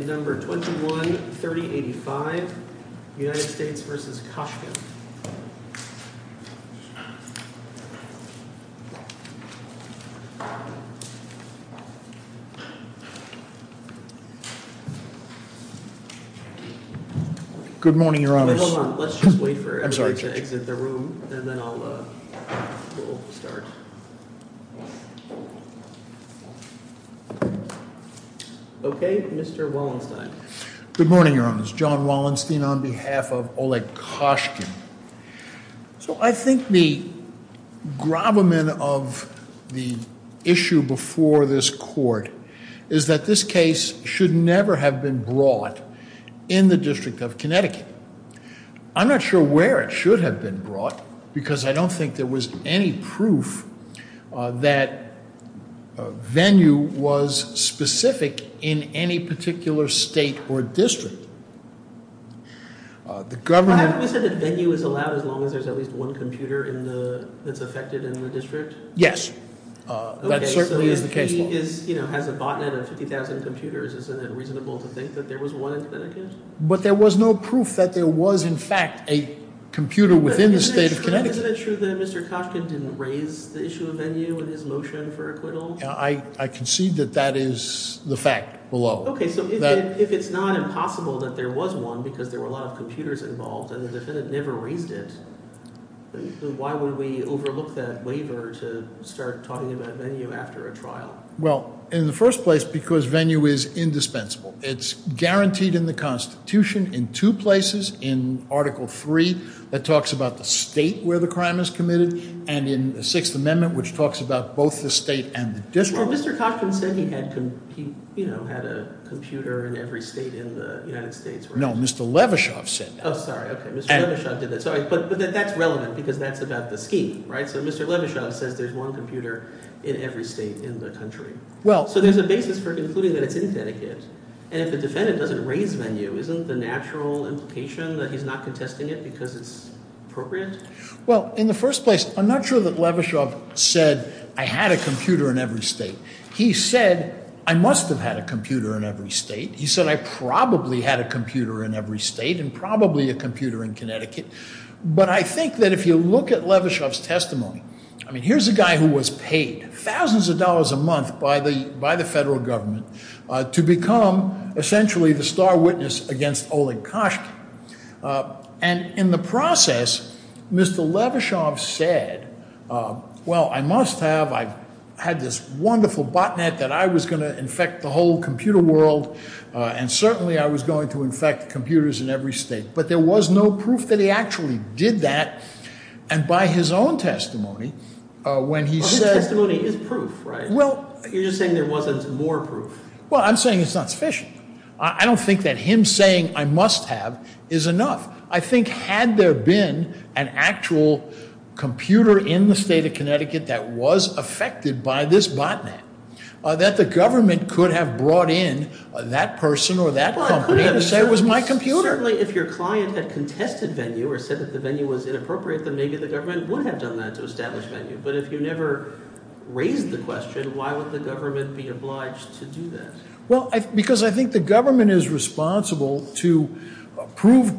Good morning, your honors. Hold on, let's just wait for everyone to exit the room and then we'll start. Okay, Mr. Wallenstein. Good morning, your honors. John Wallenstein on behalf of Oleg Koshkin. So I think the gravamen of the issue before this court is that this case should never have been brought in the District of Connecticut. I'm not sure where it should have been brought because I don't think there was any proof that Venue was specific in any particular state or district. The government... Well, haven't we said that Venue is allowed as long as there's at least one computer that's affected in the district? Yes, that certainly is the case. Okay, so if he has a botnet of 50,000 computers, isn't it reasonable to think that there was one in Connecticut? But there was no proof that there was, in fact, a computer within the state of Connecticut. Isn't it true that Mr. Koshkin didn't raise the issue of Venue in his motion for acquittal? I concede that that is the fact below. Okay, so if it's not impossible that there was one because there were a lot of computers involved and the defendant never raised it, why would we overlook that waiver to start talking about Venue after a trial? Well, in the first place, because Venue is indispensable. It's guaranteed in the Constitution in two places. In Article III, that talks about the state where the crime is committed, and in the Sixth Amendment, which talks about both the state and the district. So Mr. Koshkin said he had a computer in every state in the United States. No, Mr. Levishoff said that. Oh, sorry. Okay, Mr. Levishoff did that. Sorry, but that's relevant because that's about the scheme, right? So Mr. Levishoff says there's one computer in every state in the country. So there's a basis for concluding that it's in Connecticut. And if the defendant doesn't raise Venue, isn't the natural implication that he's not contesting it because it's appropriate? Well, in the first place, I'm not sure that Levishoff said, I had a computer in every state. He said, I must have had a computer in every state. He said, I probably had a computer in every state and probably a computer in Connecticut. But I think that if you look at Levishoff's testimony, I mean, here's a guy who was paid thousands of dollars a month by the by the federal government to become essentially the star witness against Oleg Koshkin. And in the process, Mr. Levishoff said, well, I must have. I've had this wonderful botnet that I was going to infect the whole computer world. And certainly I was going to infect computers in every state. But there was no proof that he actually did that. And by his own testimony, when he said. His testimony is proof, right? Well, you're just saying there wasn't more proof. Well, I'm saying it's not sufficient. I don't think that him saying I must have is enough. I think had there been an actual computer in the state of Connecticut that was affected by this botnet, that the government could have brought in that person or that company and said it was my computer. Certainly if your client had contested venue or said that the venue was inappropriate, then maybe the government would have done that to establish venue. But if you never raised the question, why would the government be obliged to do that? Well, because I think the government is responsible to prove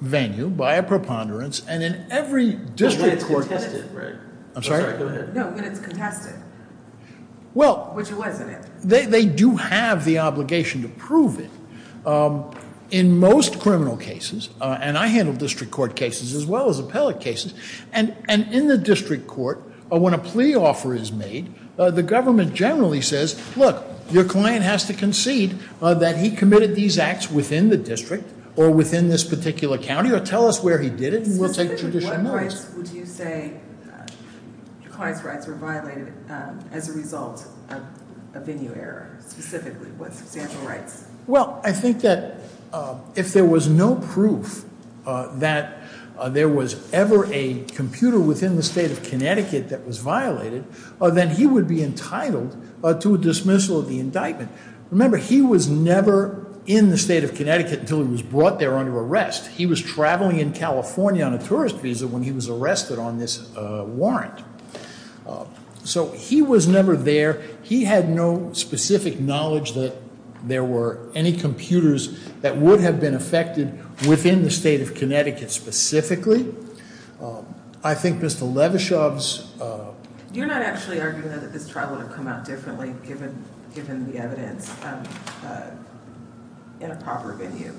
venue by a preponderance. And in every district court. But it's contested, right? I'm sorry? No, but it's contested. Well. Which it wasn't. They do have the obligation to prove it. In most criminal cases, and I handle district court cases as well as appellate cases. And in the district court, when a plea offer is made, the government generally says, look, your client has to concede that he committed these acts within the district or within this particular county. Or tell us where he did it, and we'll take judicial notice. Specifically, what rights would you say your client's rights were violated as a result of a venue error, specifically? What substantial rights? Well, I think that if there was no proof that there was ever a computer within the state of Connecticut that was violated, then he would be entitled to a dismissal of the indictment. Remember, he was never in the state of Connecticut until he was brought there under arrest. He was traveling in California on a tourist visa when he was arrested on this warrant. So he was never there. He had no specific knowledge that there were any computers that would have been affected within the state of Connecticut specifically. I think Mr. Levashov's. You're not actually arguing that this trial would have come out differently given the evidence in a proper venue?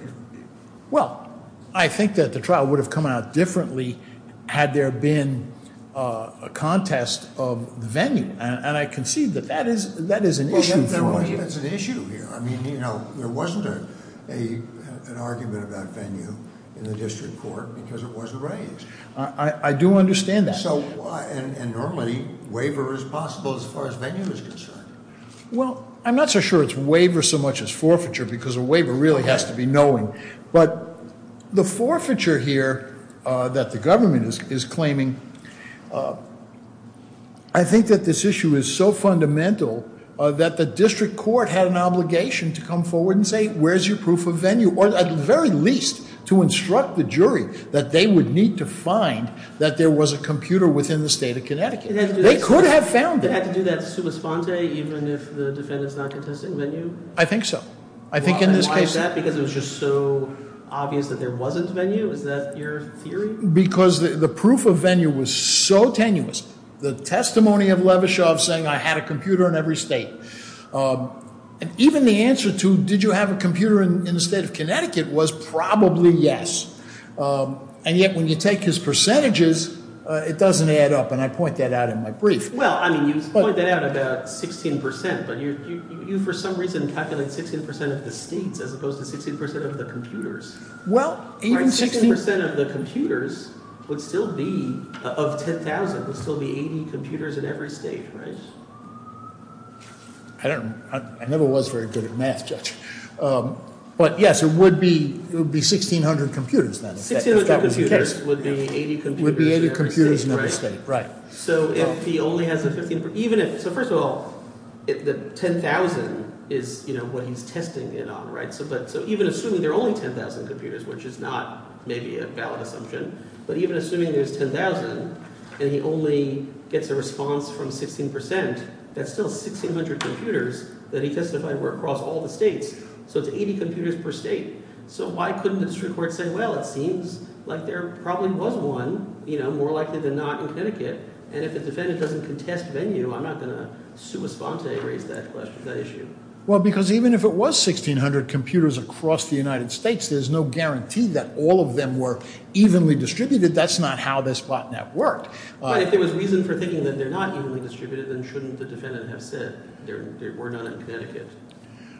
Well, I think that the trial would have come out differently had there been a contest of venue. And I concede that that is an issue for us. That's an issue here. I mean, there wasn't an argument about venue in the district court because it wasn't raised. I do understand that. And normally, waiver is possible as far as venue is concerned. Well, I'm not so sure it's waiver so much as forfeiture because a waiver really has to be knowing. But the forfeiture here that the government is claiming, I think that this issue is so fundamental that the district court had an obligation to come forward and say, where's your proof of venue? Or at the very least, to instruct the jury that they would need to find that there was a computer within the state of Connecticut. They could have found it. Would it have to do that sua sponte even if the defendant's not contesting venue? I think so. I think in this case. Why is that? Because it was just so obvious that there wasn't venue? Is that your theory? Because the proof of venue was so tenuous. The testimony of Levashov saying I had a computer in every state. And even the answer to did you have a computer in the state of Connecticut was probably yes. And yet when you take his percentages, it doesn't add up. And I point that out in my brief. Well, I mean, you point that out about 16 percent, but you for some reason calculate 16 percent of the states as opposed to 60 percent of the computers. Well, even 60 percent of the computers would still be of 10,000 would still be 80 computers in every state. Right. I never was very good at math. But, yes, it would be. It would be sixteen hundred computers. Sixteen hundred computers would be 80 computers in every state. Right. So if he only has a 15 – even if – so first of all, the 10,000 is what he's testing it on. So even assuming there are only 10,000 computers, which is not maybe a valid assumption, but even assuming there's 10,000 and he only gets a response from 16 percent, that's still 1600 computers that he testified were across all the states. So it's 80 computers per state. So why couldn't the district court say, well, it seems like there probably was one, you know, more likely than not in Connecticut. And if the defendant doesn't contest venue, I'm not going to sui sponte raise that question, that issue. Well, because even if it was 1600 computers across the United States, there's no guarantee that all of them were evenly distributed. That's not how this botnet worked. But if there was reason for thinking that they're not evenly distributed, then shouldn't the defendant have said there were none in Connecticut?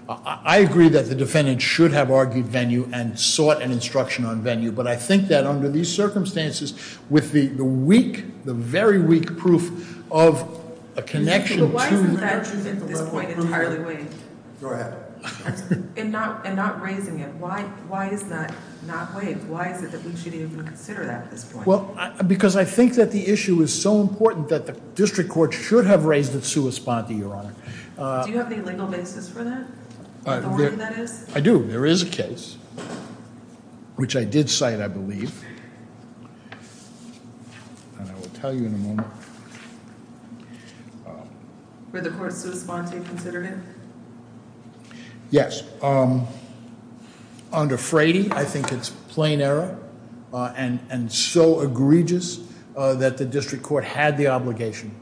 I agree that the defendant should have argued venue and sought an instruction on venue. But I think that under these circumstances, with the weak, the very weak proof of a connection to – But why isn't that at this point entirely waived? Go ahead. And not raising it. Why is that not waived? Why is it that we should even consider that at this point? Well, because I think that the issue is so important that the district court should have raised it sui sponte, Your Honor. Do you have any legal basis for that? I do. There is a case, which I did cite, I believe. And I will tell you in a moment. Were the courts sui sponte considerate? Yes. Under Frady, I think it's plain error and so egregious that the district court had the obligation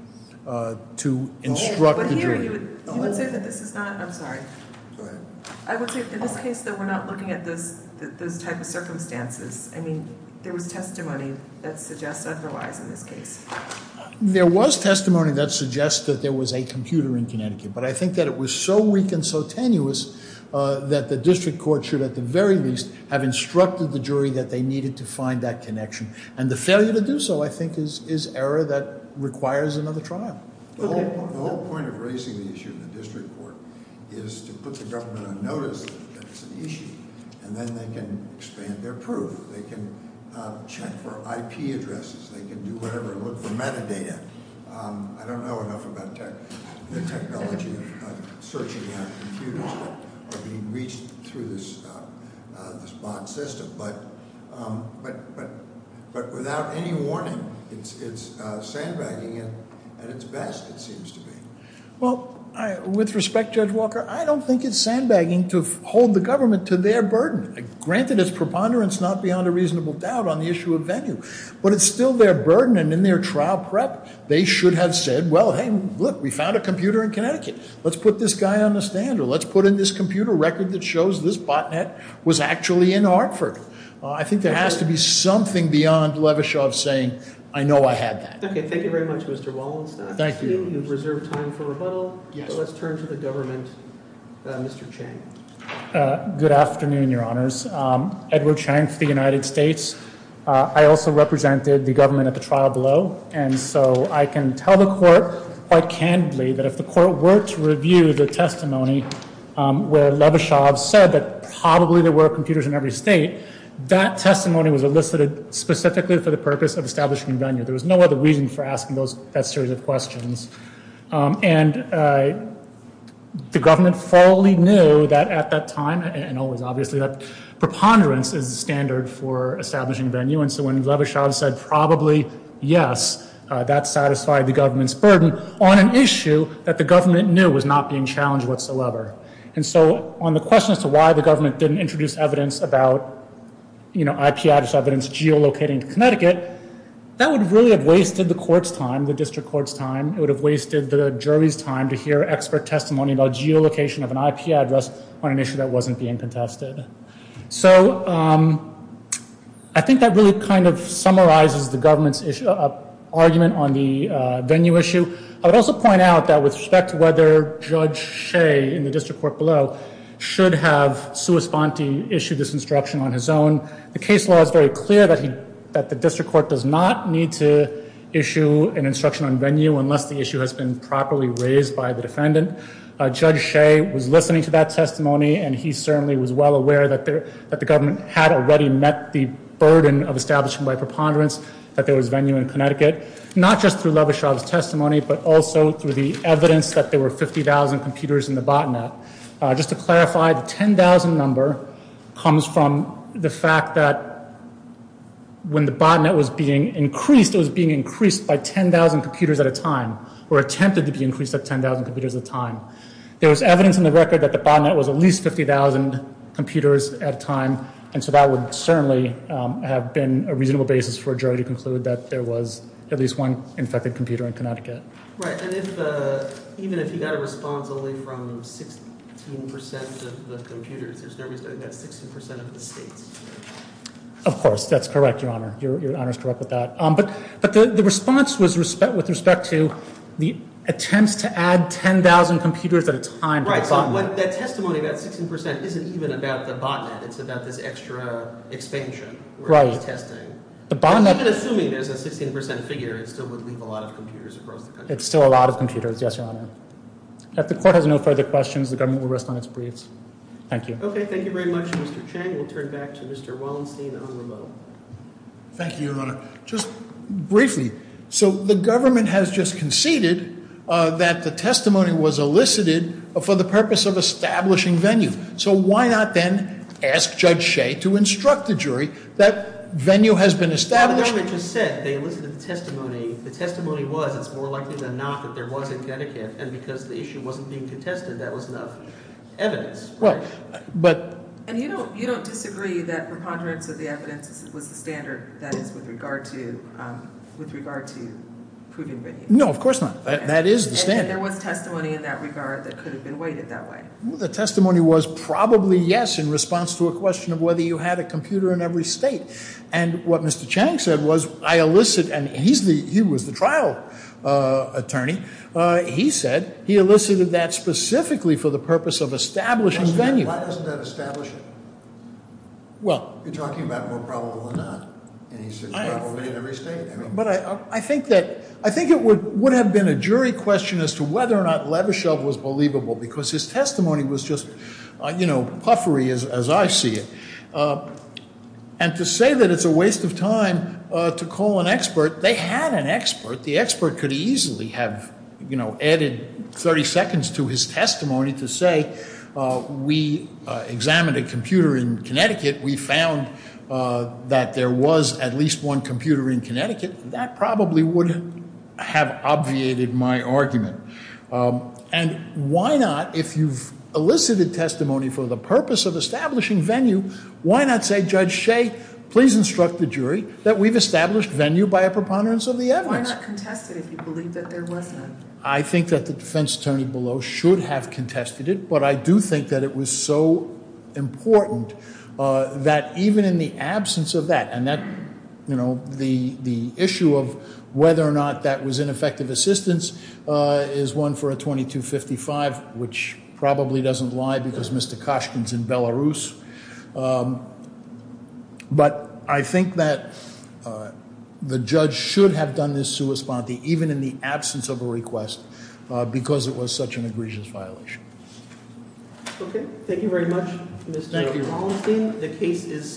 to instruct the jury. You would say that this is not – I'm sorry. Go ahead. I would say in this case that we're not looking at those type of circumstances. I mean, there was testimony that suggests otherwise in this case. There was testimony that suggests that there was a computer in Connecticut. But I think that it was so weak and so tenuous that the district court should at the very least have instructed the jury that they needed to find that connection. And the failure to do so, I think, is error that requires another trial. The whole point of raising the issue in the district court is to put the government on notice that it's an issue. And then they can expand their proof. They can check for IP addresses. They can do whatever and look for metadata. I don't know enough about the technology of searching out computers that are being reached through this bot system. But without any warning, it's sandbagging at its best, it seems to me. Well, with respect, Judge Walker, I don't think it's sandbagging to hold the government to their burden. Granted, it's preponderance, not beyond a reasonable doubt, on the issue of venue. But it's still their burden, and in their trial prep, they should have said, well, hey, look, we found a computer in Connecticut. Let's put this guy on the stand, or let's put in this computer a record that shows this botnet was actually in Hartford. I think there has to be something beyond Levishoff saying, I know I had that. Okay, thank you very much, Mr. Wallenstein. Thank you. We have reserved time for rebuttal. Let's turn to the government. Mr. Chang. Good afternoon, Your Honors. Edward Chang for the United States. I also represented the government at the trial below. And so I can tell the court quite candidly that if the court were to review the testimony where Levishoff said that probably there were computers in every state, that testimony was elicited specifically for the purpose of establishing venue. There was no other reason for asking that series of questions. And the government fully knew that at that time, and always, obviously, that preponderance is the standard for establishing venue. And so when Levishoff said probably, yes, that satisfied the government's burden on an issue that the government knew was not being challenged whatsoever. And so on the question as to why the government didn't introduce evidence about, you know, IP address evidence geolocating to Connecticut, that would really have wasted the court's time, the district court's time. It would have wasted the jury's time to hear expert testimony about geolocation of an IP address on an issue that wasn't being contested. So I think that really kind of summarizes the government's argument on the venue issue. I would also point out that with respect to whether Judge Shea in the district court below should have sua sponte issued this instruction on his own, the case law is very clear that the district court does not need to issue an instruction on venue unless the issue has been properly raised by the defendant. Judge Shea was listening to that testimony, and he certainly was well aware that the government had already met the burden of establishing by preponderance that there was venue in Connecticut, not just through Levishoff's testimony, but also through the evidence that there were 50,000 computers in the botnet. Just to clarify, the 10,000 number comes from the fact that when the botnet was being increased, it was being increased by 10,000 computers at a time or attempted to be increased at 10,000 computers at a time. There was evidence in the record that the botnet was at least 50,000 computers at a time, and so that would certainly have been a reasonable basis for a jury to conclude that there was at least one infected computer in Connecticut. Right. And even if you got a response only from 16% of the computers, there's no reason to get 16% of the states. Of course, that's correct, Your Honor. Your Honor's correct with that. But the response was with respect to the attempts to add 10,000 computers at a time to the botnet. Right. So that testimony about 16% isn't even about the botnet. It's about this extra expansion where it's testing. Right. The botnet... Even assuming there's a 16% figure, it still would leave a lot of computers across the country. It's still a lot of computers, yes, Your Honor. If the court has no further questions, the government will rest on its breaths. Thank you. Okay. Thank you very much, Mr. Chang. We'll turn back to Mr. Wallenstein on remote. Thank you, Your Honor. Just briefly, so the government has just conceded that the testimony was elicited for the purpose of establishing venue. So why not then ask Judge Shea to instruct the jury that venue has been established? Well, the government just said they elicited the testimony. The testimony was it's more likely than not that there was in Connecticut, and because the issue wasn't being contested, that was enough evidence. And you don't disagree that preponderance of the evidence was the standard that is with regard to proving venue? No, of course not. That is the standard. And there was testimony in that regard that could have been weighted that way? The testimony was probably yes in response to a question of whether you had a computer in every state. And what Mr. Chang said was I elicit, and he was the trial attorney, he said he elicited that specifically for the purpose of establishing venue. Why doesn't that establish it? Well. You're talking about more probable than not. And he said probably in every state. But I think it would have been a jury question as to whether or not Levashev was believable, because his testimony was just, you know, puffery as I see it. And to say that it's a waste of time to call an expert, they had an expert. The expert could easily have, you know, added 30 seconds to his testimony to say we examined a computer in Connecticut. We found that there was at least one computer in Connecticut. That probably would have obviated my argument. And why not, if you've elicited testimony for the purpose of establishing venue, why not say, Judge Shea, please instruct the jury that we've established venue by a preponderance of the evidence? Why not contest it if you believe that there was none? I think that the defense attorney below should have contested it, but I do think that it was so important that even in the absence of that, you know, the issue of whether or not that was ineffective assistance is one for a 2255, which probably doesn't lie, because Mr. Koshkin's in Belarus. But I think that the judge should have done this sua sponte, even in the absence of a request, because it was such an egregious violation. Okay, thank you very much, Mr. Holmstein. The case is submitted.